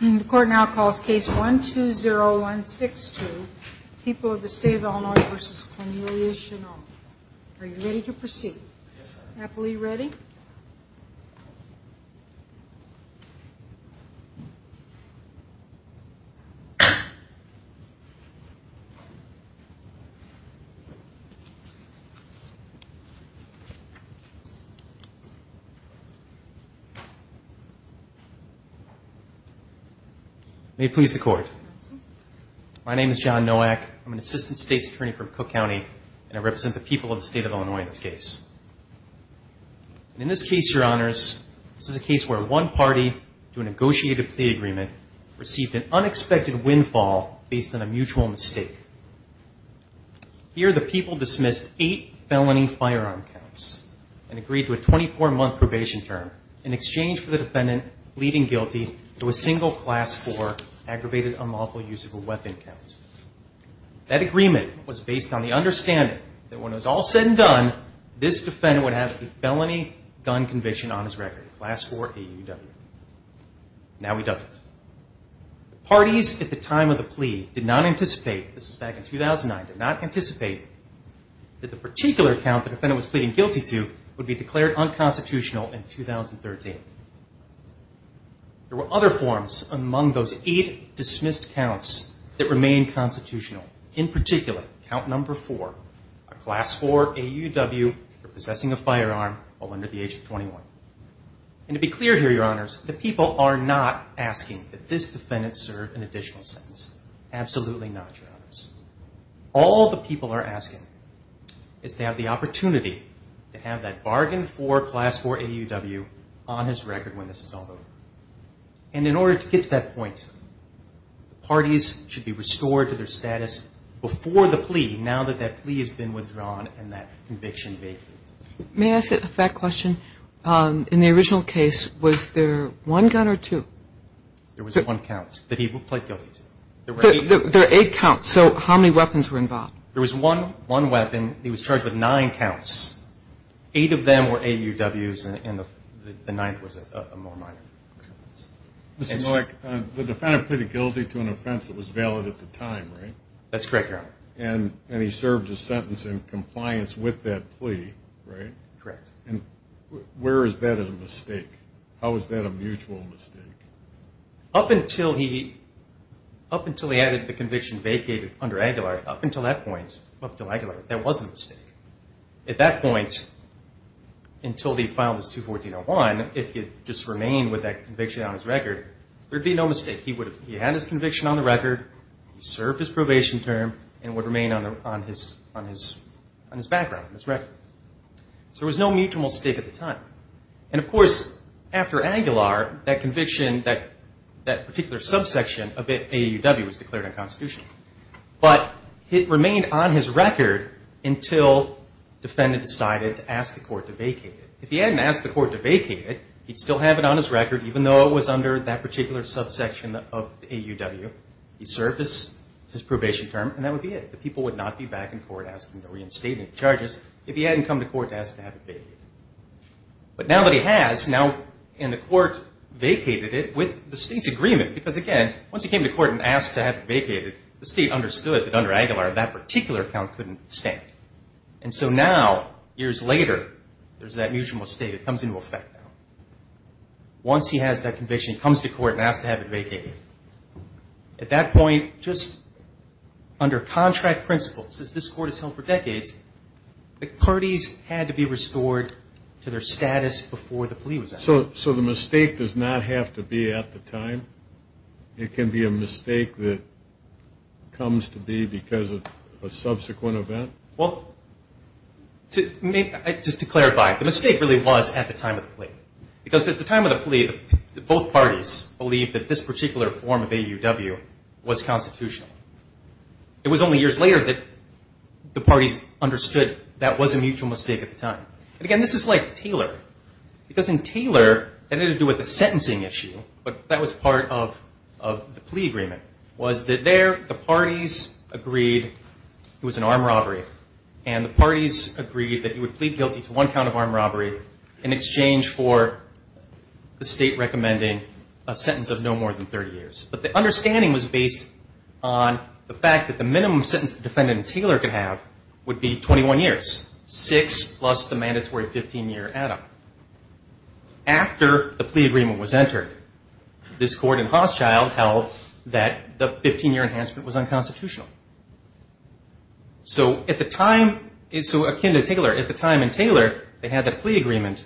The court now calls case 12016 to People of the State of Illinois v. Cornelius Shinaul Are you ready to proceed? Happily ready? May it please the court. My name is John Nowak. I'm an assistant state's attorney from Cook County and I represent the people of the state of Illinois in this case. In this case, your honors, this is a case where one party to a negotiated plea agreement received an unexpected windfall based on a mutual mistake. Here the people dismissed eight felony firearm counts and agreed to a 24-month probation term in exchange for the defendant pleading guilty to a single Class 4 aggravated unlawful use of a weapon count. That agreement was based on the understanding that when it was all said and done, this defendant would have a felony gun conviction on his record, Class 4 AUW. Now he doesn't. Parties at the time of the plea did not anticipate, this was back in 2009, did not anticipate that the particular count the defendant was pleading guilty to would be declared unconstitutional in 2013. There were other forms among those eight dismissed counts that remained constitutional. In particular, count number four, a Class 4 AUW for possessing a firearm while under the age of 21. And to be clear here, your honors, the people are not asking that this defendant serve an additional sentence. Absolutely not, your honors. All the people are asking is to have the opportunity to have that bargain for Class 4 AUW on his record when this is all over. And in order to get to that point, parties should be restored to their status before the plea, now that that plea has been withdrawn and that conviction vacated. May I ask a fact question? In the original case, was there one gun or two? There was one count that he pleaded guilty to. There are eight counts, so how many weapons were involved? There was one weapon. He was charged with nine counts. Eight of them were AUWs and the ninth was a more minor offense. Mr. Malek, the defendant pleaded guilty to an offense that was valid at the time, right? That's correct, your honor. And he served his sentence in compliance with that plea, right? Correct. And where is that a mistake? How is that a mutual mistake? Up until he added the conviction vacated under Aguilar, up until that point, up until Aguilar, that was a mistake. At that point, until he filed his 214-01, if he had just remained with that conviction on his record, there would be no mistake. He had his conviction on the record, he served his probation term, and it would remain on his background, on his record. So there was no mutual mistake at the time. And, of course, after Aguilar, that conviction, that particular subsection of AUW was declared unconstitutional. But it remained on his record until the defendant decided to ask the court to vacate it. If he hadn't asked the court to vacate it, he'd still have it on his record, even though it was under that particular subsection of AUW. He served his probation term, and that would be it. The people would not be back in court asking to reinstate any charges if he hadn't come to court to ask to have it vacated. But now that he has, now, and the court vacated it with the state's agreement, because, again, once he came to court and asked to have it vacated, the state understood that under Aguilar, that particular count couldn't stand. And so now, years later, there's that mutual mistake that comes into effect now. Once he has that conviction, he comes to court and asks to have it vacated. At that point, just under contract principles, as this court has held for decades, the parties had to be restored to their status before the plea was asked. So the mistake does not have to be at the time? It can be a mistake that comes to be because of a subsequent event? Well, just to clarify, the mistake really was at the time of the plea. Because at the time of the plea, both parties believed that this particular form of AUW was constitutional. It was only years later that the parties understood that was a mutual mistake at the time. And, again, this is like Taylor. Because in Taylor, that had to do with the sentencing issue, but that was part of the plea agreement, was that there the parties agreed it was an armed robbery, and the parties agreed that he would plead guilty to one count of armed robbery in exchange for the state recommending a sentence of no more than 30 years. But the understanding was based on the fact that the minimum sentence the defendant in Taylor could have would be 21 years, six plus the mandatory 15-year add-up. After the plea agreement was entered, this court in Hochschild held that the 15-year enhancement was unconstitutional. So at the time, so akin to Taylor, at the time in Taylor, they had that plea agreement.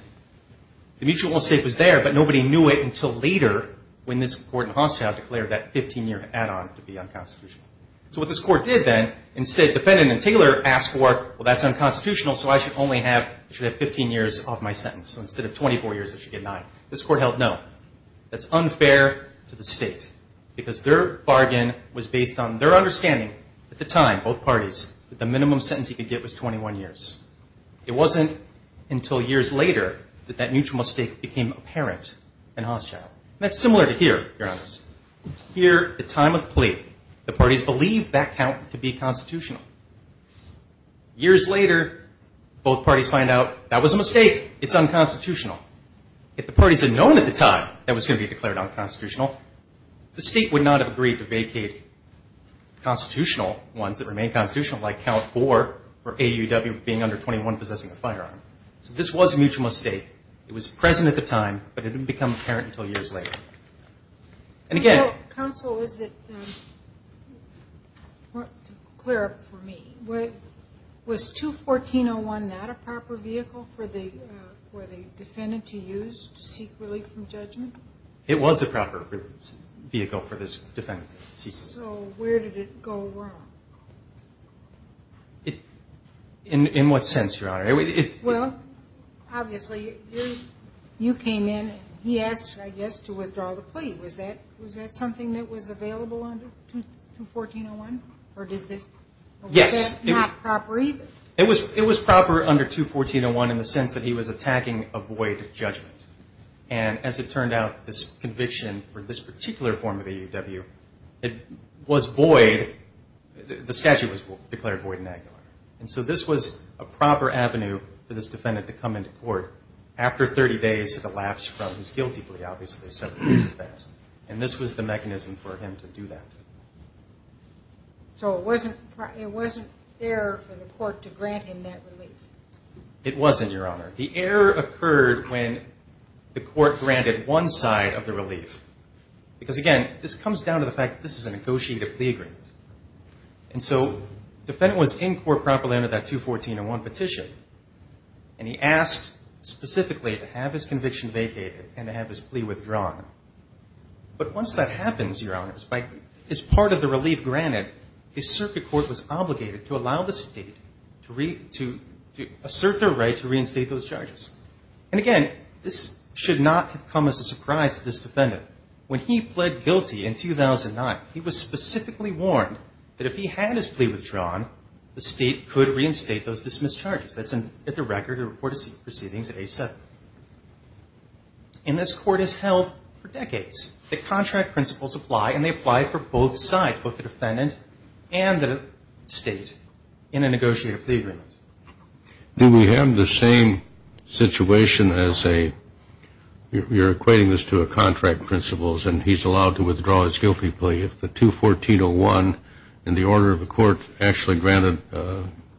The mutual mistake was there, but nobody knew it until later when this court in Hochschild declared that 15-year add-on to be unconstitutional. So what this court did then, instead, the defendant in Taylor asked for, well, that's unconstitutional, so I should only have 15 years off my sentence. So instead of 24 years, I should get nine. This court held no. That's unfair to the state, because their bargain was based on their understanding at the time, both parties, that the minimum sentence he could get was 21 years. It wasn't until years later that that mutual mistake became apparent in Hochschild. And that's similar to here, Your Honors. Here, at the time of the plea, the parties believed that count to be constitutional. Years later, both parties find out that was a mistake. It's unconstitutional. If the parties had known at the time that it was going to be declared unconstitutional, the state would not have agreed to vacate constitutional ones that remain constitutional, like count four for AUW being under 21, possessing a firearm. So this was a mutual mistake. It was present at the time, but it didn't become apparent until years later. And again. Counsel, is it clear for me? Was 214.01 not a proper vehicle for the defendant to use to seek relief from judgment? It was the proper vehicle for this defendant to use. So where did it go wrong? In what sense, Your Honor? Well, obviously, you came in, and he asked, I guess, to withdraw the plea. Was that something that was available under 214.01? Yes. Was that not proper either? It was proper under 214.01 in the sense that he was attacking a void of judgment. And as it turned out, this conviction for this particular form of AUW, it was void. The statute was declared void in Aguilar. And so this was a proper avenue for this defendant to come into court. After 30 days of the lapse from his guilty plea, obviously, several years had passed. And this was the mechanism for him to do that. So it wasn't there for the court to grant him that relief? It wasn't, Your Honor. The error occurred when the court granted one side of the relief. Because, again, this comes down to the fact that this is a negotiated plea agreement. And so the defendant was in court properly under that 214.01 petition. And he asked specifically to have his conviction vacated and to have his plea withdrawn. But once that happens, Your Honors, his part of the relief granted, the circuit court was obligated to allow the state to assert their right to reinstate those charges. And, again, this should not have come as a surprise to this defendant. When he pled guilty in 2009, he was specifically warned that if he had his plea withdrawn, the state could reinstate those dismissed charges. That's at the record of the report of proceedings at age 70. And this court has held for decades that contract principles apply, and they apply for both sides, both the defendant and the state, in a negotiated plea agreement. Do we have the same situation as a, you're equating this to a contract principles, and he's allowed to withdraw his guilty plea if the 214.01 in the order of the court actually granted,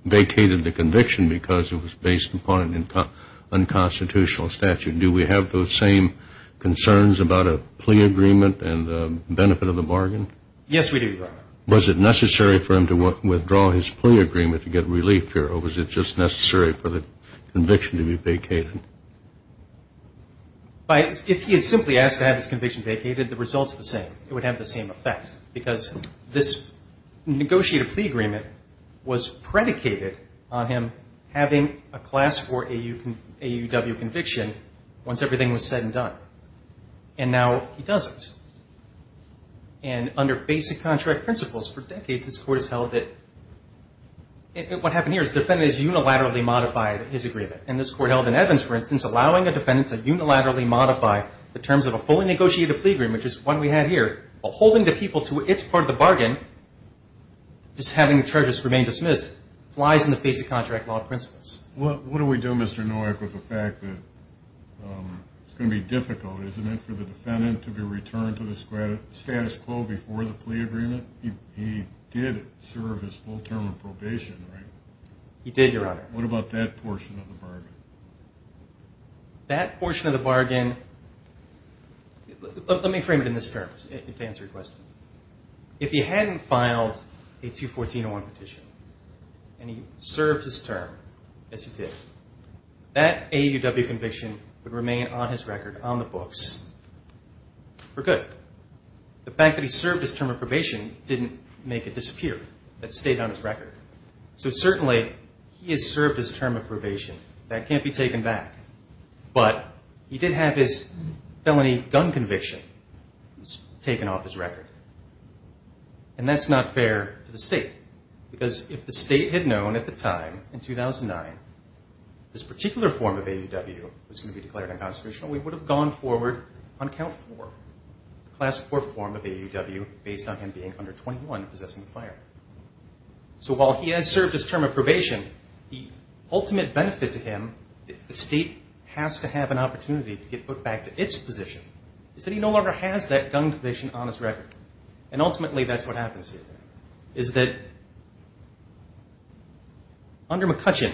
vacated the conviction because it was based upon an unconstitutional statute. Do we have those same concerns about a plea agreement and the benefit of the bargain? Yes, we do, Your Honor. Was it necessary for him to withdraw his plea agreement to get relief, Your Honor, or was it just necessary for the conviction to be vacated? If he had simply asked to have his conviction vacated, the result's the same. It would have the same effect because this negotiated plea agreement was predicated on him having a class for AUW conviction once everything was said and done, and now he doesn't. And under basic contract principles, for decades this court has held it. What happened here is the defendant has unilaterally modified his agreement, and this court held in Evans, for instance, allowing a defendant to unilaterally modify the terms of a fully negotiated plea agreement, which is the one we have here, while holding the people to its part of the bargain, just having the charges remain dismissed, flies in the basic contract law principles. What do we do, Mr. Nowak, with the fact that it's going to be difficult, isn't it, for the defendant to be returned to the status quo before the plea agreement? He did serve his full term of probation, right? He did, Your Honor. What about that portion of the bargain? That portion of the bargain – let me frame it in this term, to answer your question. If he hadn't filed a 214-01 petition and he served his term as he did, that AUW conviction would remain on his record on the books for good. The fact that he served his term of probation didn't make it disappear. That stayed on his record. That can't be taken back. But he did have his felony gun conviction. It was taken off his record. And that's not fair to the State, because if the State had known at the time, in 2009, this particular form of AUW was going to be declared unconstitutional, we would have gone forward on count four, the Class IV form of AUW, based on him being under 21 and possessing a firearm. So while he has served his term of probation, the ultimate benefit to him, the State has to have an opportunity to get put back to its position, is that he no longer has that gun conviction on his record. And ultimately that's what happens here, is that under McCutcheon,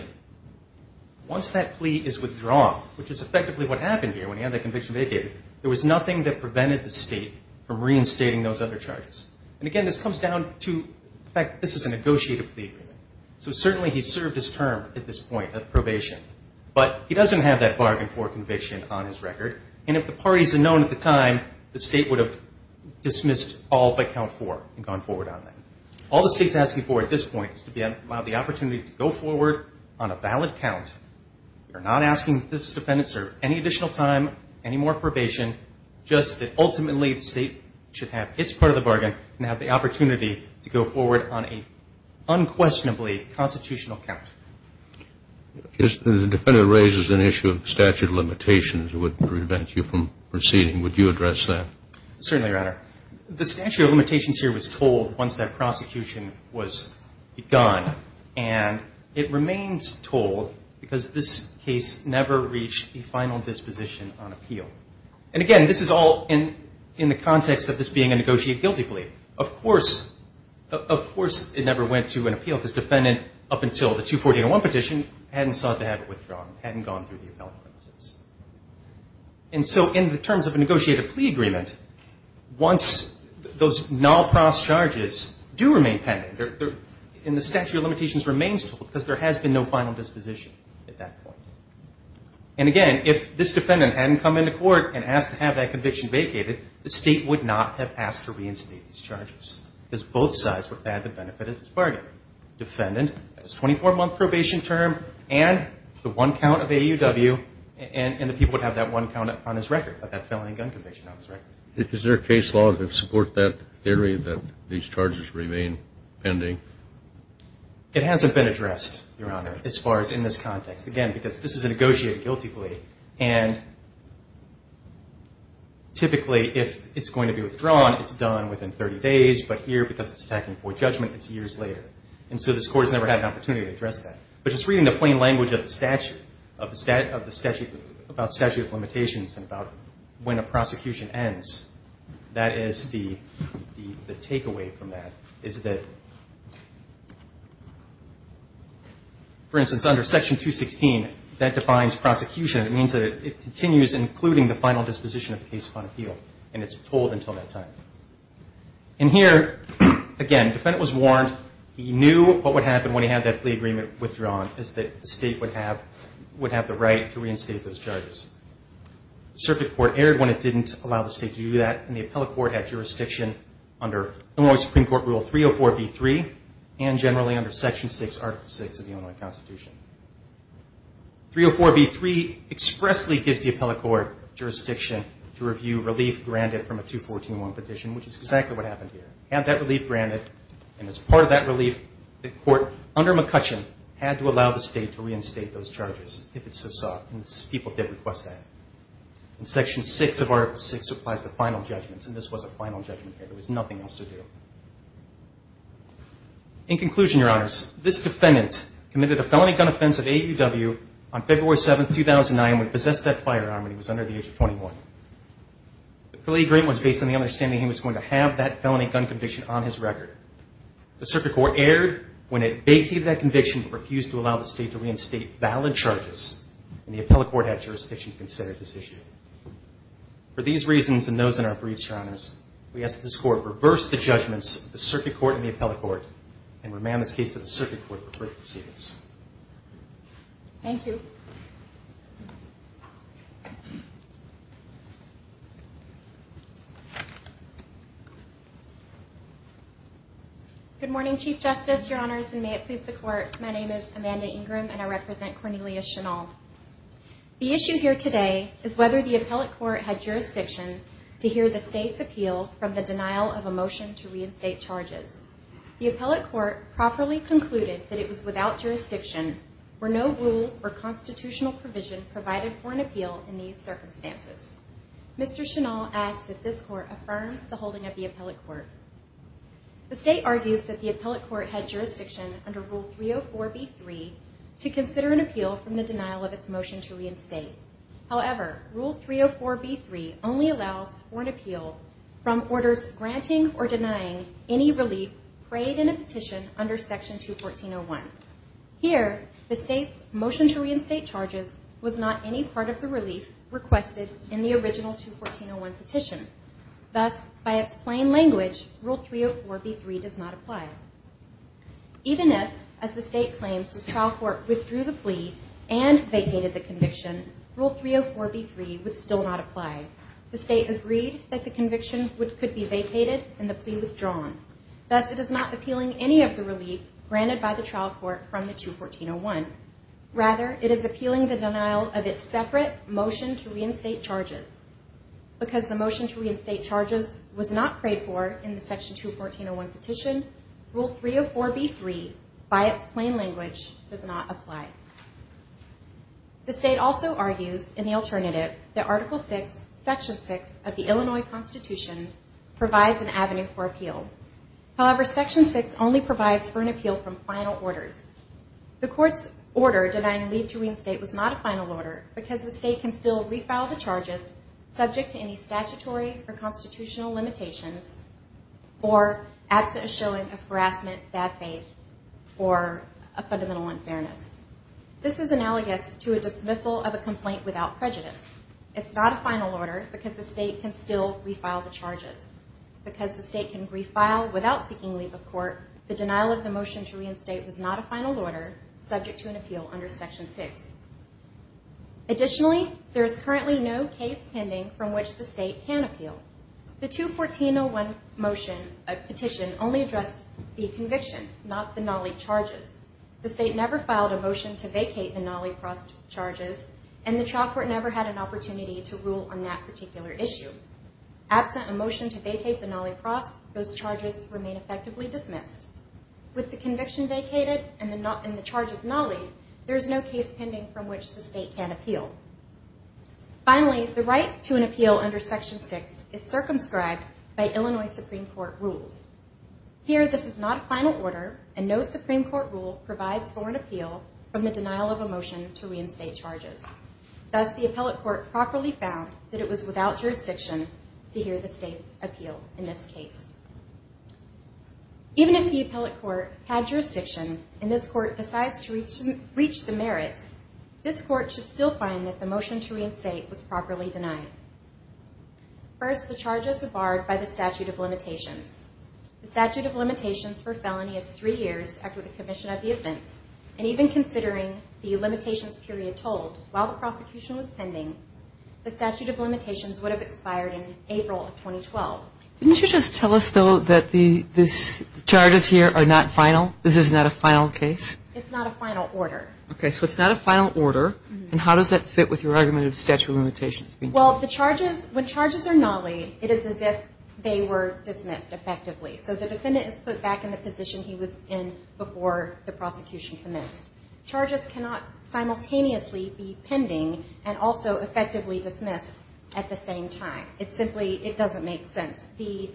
once that plea is withdrawn, which is effectively what happened here when he had that conviction vacated, there was nothing that prevented the State from reinstating those other charges. And again, this comes down to the fact that this is a negotiated plea agreement. So certainly he's served his term at this point of probation, but he doesn't have that bargain for conviction on his record. And if the parties had known at the time, the State would have dismissed all but count four and gone forward on that. All the State's asking for at this point is to be allowed the opportunity to go forward on a valid count. We're not asking this defendant to serve any additional time, any more probation, just that ultimately the State should have its part of the bargain and have the opportunity to go forward on an unquestionably constitutional count. If the defendant raises an issue of statute of limitations, it would prevent you from proceeding. Would you address that? Certainly, Your Honor. The statute of limitations here was told once that prosecution was begun. And it remains told because this case never reached a final disposition on appeal. And again, this is all in the context of this being a negotiated guilty plea. Of course, it never went to an appeal because the defendant, up until the 240-01 petition, hadn't sought to have it withdrawn, hadn't gone through the appellate process. And so in terms of a negotiated plea agreement, once those non-prose charges do remain pending, and the statute of limitations remains told because there has been no final disposition at that point. And again, if this defendant hadn't come into court and asked to have that conviction vacated, the State would not have asked to reinstate these charges because both sides would have had the benefit of this bargain. Defendant has a 24-month probation term and the one count of AUW, and the people would have that one count on his record, that felony gun conviction on his record. Is there a case law that would support that theory that these charges remain pending? It hasn't been addressed, Your Honor, as far as in this context. Again, because this is a negotiated guilty plea, and typically if it's going to be withdrawn, it's done within 30 days. But here, because it's attacking before judgment, it's years later. And so this Court has never had an opportunity to address that. But just reading the plain language of the statute, about statute of limitations and about when a prosecution ends, that is the takeaway from that, is that, for instance, under Section 216, that defines prosecution. It means that it continues including the final disposition of the case upon appeal, and it's told until that time. And here, again, defendant was warned. He knew what would happen when he had that plea agreement withdrawn, is that the State would have the right to reinstate those charges. Circuit Court erred when it didn't allow the State to do that, and the Appellate Court had jurisdiction under Illinois Supreme Court Rule 304b-3 and generally under Section 6, Article 6 of the Illinois Constitution. 304b-3 expressly gives the Appellate Court jurisdiction to review relief granted from a 214-1 petition, which is exactly what happened here. Had that relief granted, and as part of that relief, the Court under McCutcheon had to allow the State to reinstate those charges, if it so sought, and people did request that. And Section 6 of Article 6 applies to final judgments, and this was a final judgment here. There was nothing else to do. In conclusion, Your Honors, this defendant committed a felony gun offense at AUW on February 7, 2009, and would possess that firearm when he was under the age of 21. The plea agreement was based on the understanding he was going to have that felony gun conviction on his record. The Circuit Court erred when it vacated that conviction but refused to allow the State to reinstate valid charges, and the Appellate Court had jurisdiction to consider this issue. For these reasons and those in our briefs, Your Honors, we ask that this Court reverse the judgments of the Circuit Court and the Appellate Court and remand this case to the Circuit Court for further proceedings. Thank you. Good morning, Chief Justice, Your Honors, and may it please the Court. My name is Amanda Ingram, and I represent Cornelia Chennaul. The issue here today is whether the Appellate Court had jurisdiction to hear the State's appeal from the denial of a motion to reinstate charges. The Appellate Court properly concluded that it was without jurisdiction where no rule or constitutional provision provided for an appeal in these circumstances. Mr. Chennaul asks that this Court affirm the holding of the Appellate Court. The State argues that the Appellate Court had jurisdiction under Rule 304b-3 to consider an appeal from the denial of its motion to reinstate. However, Rule 304b-3 only allows for an appeal from orders granting or denying any relief prayed in a petition under Section 214.01. Here, the State's motion to reinstate charges was not any part of the relief requested in the original 214.01 petition. Thus, by its plain language, Rule 304b-3 does not apply. Even if, as the State claims, the trial court withdrew the plea and vacated the conviction, Rule 304b-3 would still not apply. The State agreed that the conviction could be vacated and the plea withdrawn. Thus, it is not appealing any of the relief granted by the trial court from the 214.01. Rather, it is appealing the denial of its separate motion to reinstate charges. Because the motion to reinstate charges was not prayed for in the Section 214.01 petition, Rule 304b-3, by its plain language, does not apply. The State also argues, in the alternative, that Article 6, Section 6 of the Illinois Constitution, provides an avenue for appeal. However, Section 6 only provides for an appeal from final orders. The Court's order denying leave to reinstate was not a final order because the State can still refile the charges subject to any statutory or constitutional limitations or absent a showing of harassment, bad faith, or a fundamental unfairness. This is analogous to a dismissal of a complaint without prejudice. It's not a final order because the State can still refile the charges. Because the State can refile without seeking leave of court, the denial of the motion to reinstate was not a final order subject to an appeal under Section 6. Additionally, there is currently no case pending from which the State can appeal. The 214-01 petition only addressed the conviction, not the nollie charges. The State never filed a motion to vacate the nollie-crossed charges, and the trial court never had an opportunity to rule on that particular issue. Absent a motion to vacate the nollie-crossed, those charges remain effectively dismissed. With the conviction vacated and the charges nollie, there is no case pending from which the State can appeal. Finally, the right to an appeal under Section 6 is circumscribed by Illinois Supreme Court rules. Here, this is not a final order, and no Supreme Court rule provides for an appeal from the denial of a motion to reinstate charges. Thus, the appellate court properly found that it was without jurisdiction to hear the State's appeal in this case. Even if the appellate court had jurisdiction and this court decides to reach the merits, this court should still find that the motion to reinstate was properly denied. First, the charges are barred by the statute of limitations. The statute of limitations for felony is three years after the commission of the offense, and even considering the limitations period told, while the prosecution was pending, the statute of limitations would have expired in April of 2012. Didn't you just tell us, though, that the charges here are not final? This is not a final case? It's not a final order. Okay. So it's not a final order, and how does that fit with your argument of statute of limitations? Well, the charges, when charges are nollied, it is as if they were dismissed effectively. So the defendant is put back in the position he was in before the prosecution commenced. Charges cannot simultaneously be pending and also effectively dismissed at the same time. It simply, it doesn't make sense. The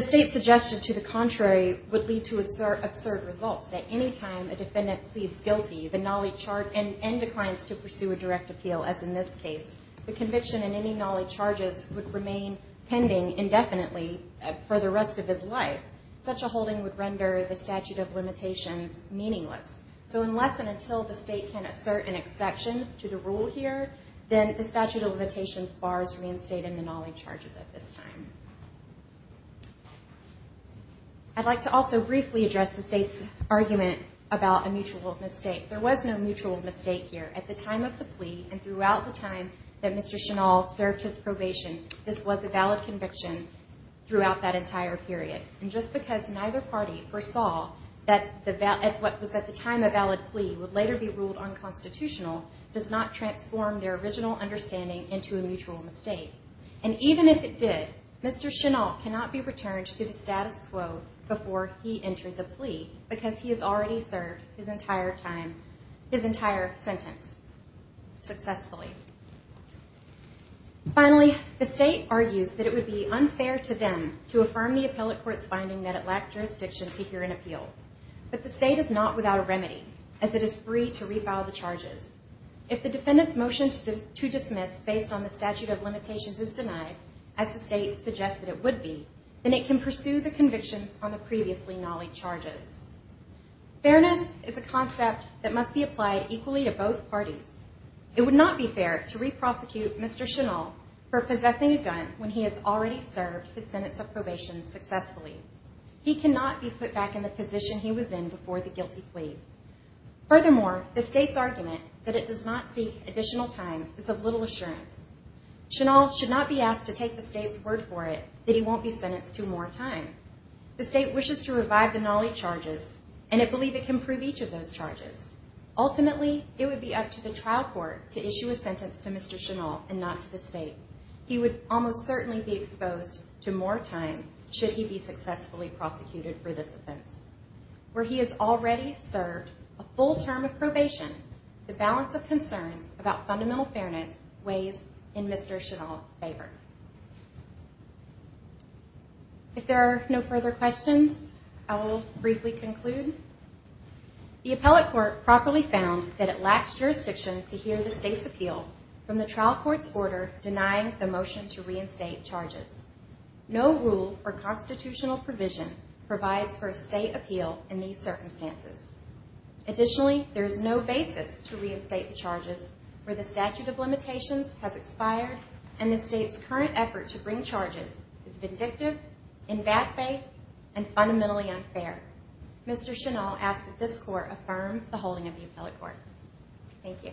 state's suggestion to the contrary would lead to absurd results, that any time a defendant pleads guilty and declines to pursue a direct appeal, as in this case, the conviction in any nollie charges would remain pending indefinitely for the rest of his life. Such a holding would render the statute of limitations meaningless. So unless and until the state can assert an exception to the rule here, then the statute of limitations bars reinstating the nollie charges at this time. I'd like to also briefly address the state's argument about a mutual mistake. There was no mutual mistake here. At the time of the plea and throughout the time that Mr. Chennault served his probation, this was a valid conviction throughout that entire period. And just because neither party foresaw that what was at the time a valid plea would later be ruled unconstitutional does not transform their original understanding into a mutual mistake. And even if it did, Mr. Chennault cannot be returned to the status quo before he entered the plea because he has already served his entire sentence successfully. Finally, the state argues that it would be unfair to them to affirm the appellate court's finding that it lacked jurisdiction to hear an appeal. But the state is not without a remedy, as it is free to refile the charges. If the defendant's motion to dismiss based on the statute of limitations is denied, as the state suggests that it would be, then it can pursue the convictions on the previously nollie charges. Fairness is a concept that must be applied equally to both parties. It would not be fair to re-prosecute Mr. Chennault for possessing a gun when he has already served his sentence of probation successfully. He cannot be put back in the position he was in before the guilty plea. Furthermore, the state's argument that it does not seek additional time is of little assurance. Chennault should not be asked to take the state's word for it that he won't be sentenced to more time. The state wishes to revive the nollie charges, and it believes it can prove each of those charges. Ultimately, it would be up to the trial court to issue a sentence to Mr. Chennault and not to the state. He would almost certainly be exposed to more time should he be successfully prosecuted for this offense. Where he has already served a full term of probation, the balance of concerns about fundamental fairness weighs in Mr. Chennault's favor. If there are no further questions, I will briefly conclude. The appellate court properly found that it lacks jurisdiction to hear the state's appeal from the trial court's order denying the motion to reinstate charges. No rule or constitutional provision provides for a state appeal in these circumstances. Additionally, there is no basis to reinstate the charges where the statute of limitations has expired and the state's current effort to bring charges is vindictive, in bad faith, and fundamentally unfair. Mr. Chennault asks that this court affirm the holding of the appellate court. Thank you.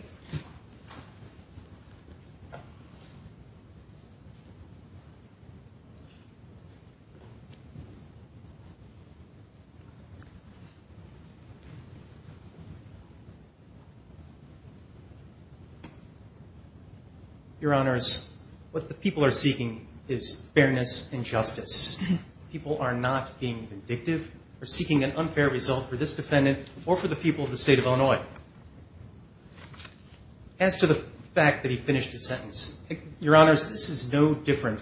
Your Honors, what the people are seeking is fairness and justice. People are not being vindictive or seeking an unfair result for this defendant or for the people of the state of Illinois. As to the fact that he finished his sentence, Your Honors, this is no different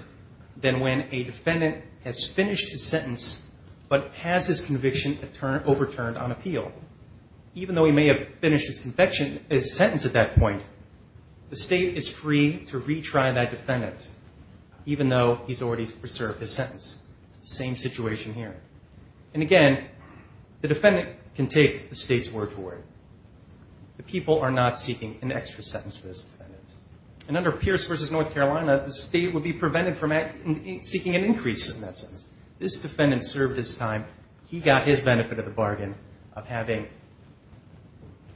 than when a defendant has finished his sentence but has his conviction overturned on appeal. Even though he may have finished his sentence at that point, the state is free to retry that defendant even though he's already preserved his sentence. It's the same situation here. And again, the defendant can take the state's word for it. The people are not seeking an extra sentence for this defendant. And under Pierce v. North Carolina, the state would be prevented from seeking an increase in that sentence. This defendant served his time. He got his benefit of the bargain of having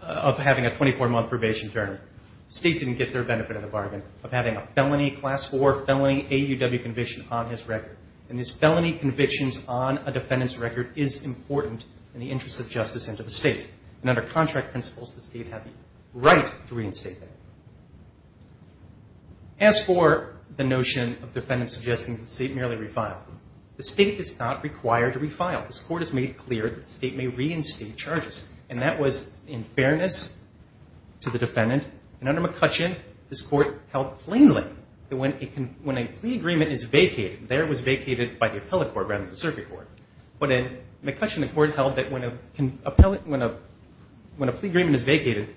a 24-month probation term. The state didn't get their benefit of the bargain of having a felony, Class IV felony AUW conviction on his record. And these felony convictions on a defendant's record is important in the interest of justice and to the state. And under contract principles, the state had the right to reinstate that. As for the notion of defendants suggesting that the state merely refiled, the state is not required to refile. This court has made it clear that the state may reinstate charges. And that was in fairness to the defendant. And under McCutcheon, this court held plainly that when a plea agreement is vacated, there it was vacated by the appellate court rather than the circuit court. But in McCutcheon, the court held that when a plea agreement is vacated,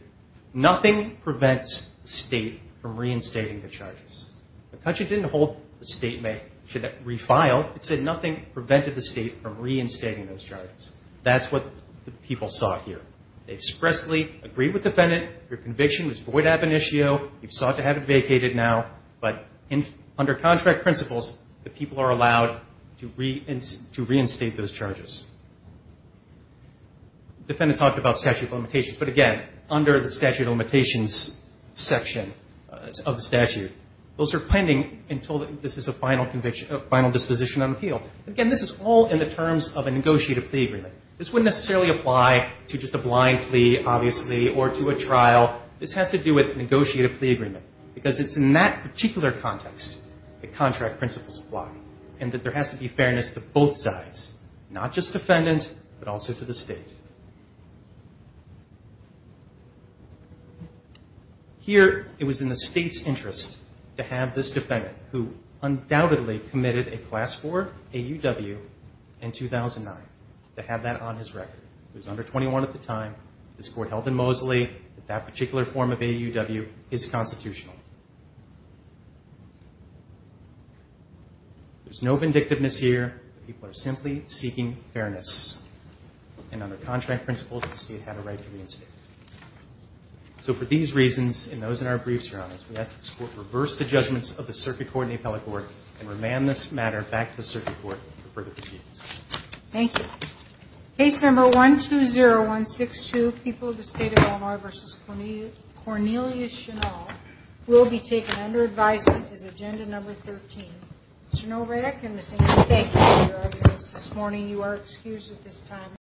nothing prevents the state from reinstating the charges. McCutcheon didn't hold the state may refile. It said nothing prevented the state from reinstating those charges. That's what the people saw here. They expressly agreed with the defendant. Their conviction was void ab initio. You sought to have it vacated now. But under contract principles, the people are allowed to reinstate those charges. The defendant talked about statute of limitations. But, again, under the statute of limitations section of the statute, those are pending until this is a final disposition on appeal. Again, this is all in the terms of a negotiated plea agreement. This wouldn't necessarily apply to just a blind plea, obviously, or to a trial. This has to do with a negotiated plea agreement because it's in that particular context that contract principles apply and that there has to be fairness to both sides, not just defendant but also to the state. Here, it was in the state's interest to have this defendant, who undoubtedly committed a Class IV AUW in 2009, to have that on his record. He was under 21 at the time. This Court held in Mosley that that particular form of AUW is constitutional. There's no vindictiveness here. The people are simply seeking fairness. And under contract principles, the state had a right to reinstate it. So for these reasons and those in our briefs, Your Honors, we ask that this Court reverse the judgments of the Circuit Court and the Appellate Court and remand this matter back to the Circuit Court for further proceedings. Thank you. Case No. 120162, People of the State of Illinois v. Cornelius Chennault, will be taken under advisement as Agenda No. 13. Mr. Novak and Ms. Ingram, thank you for your arguments this morning. You are excused at this time.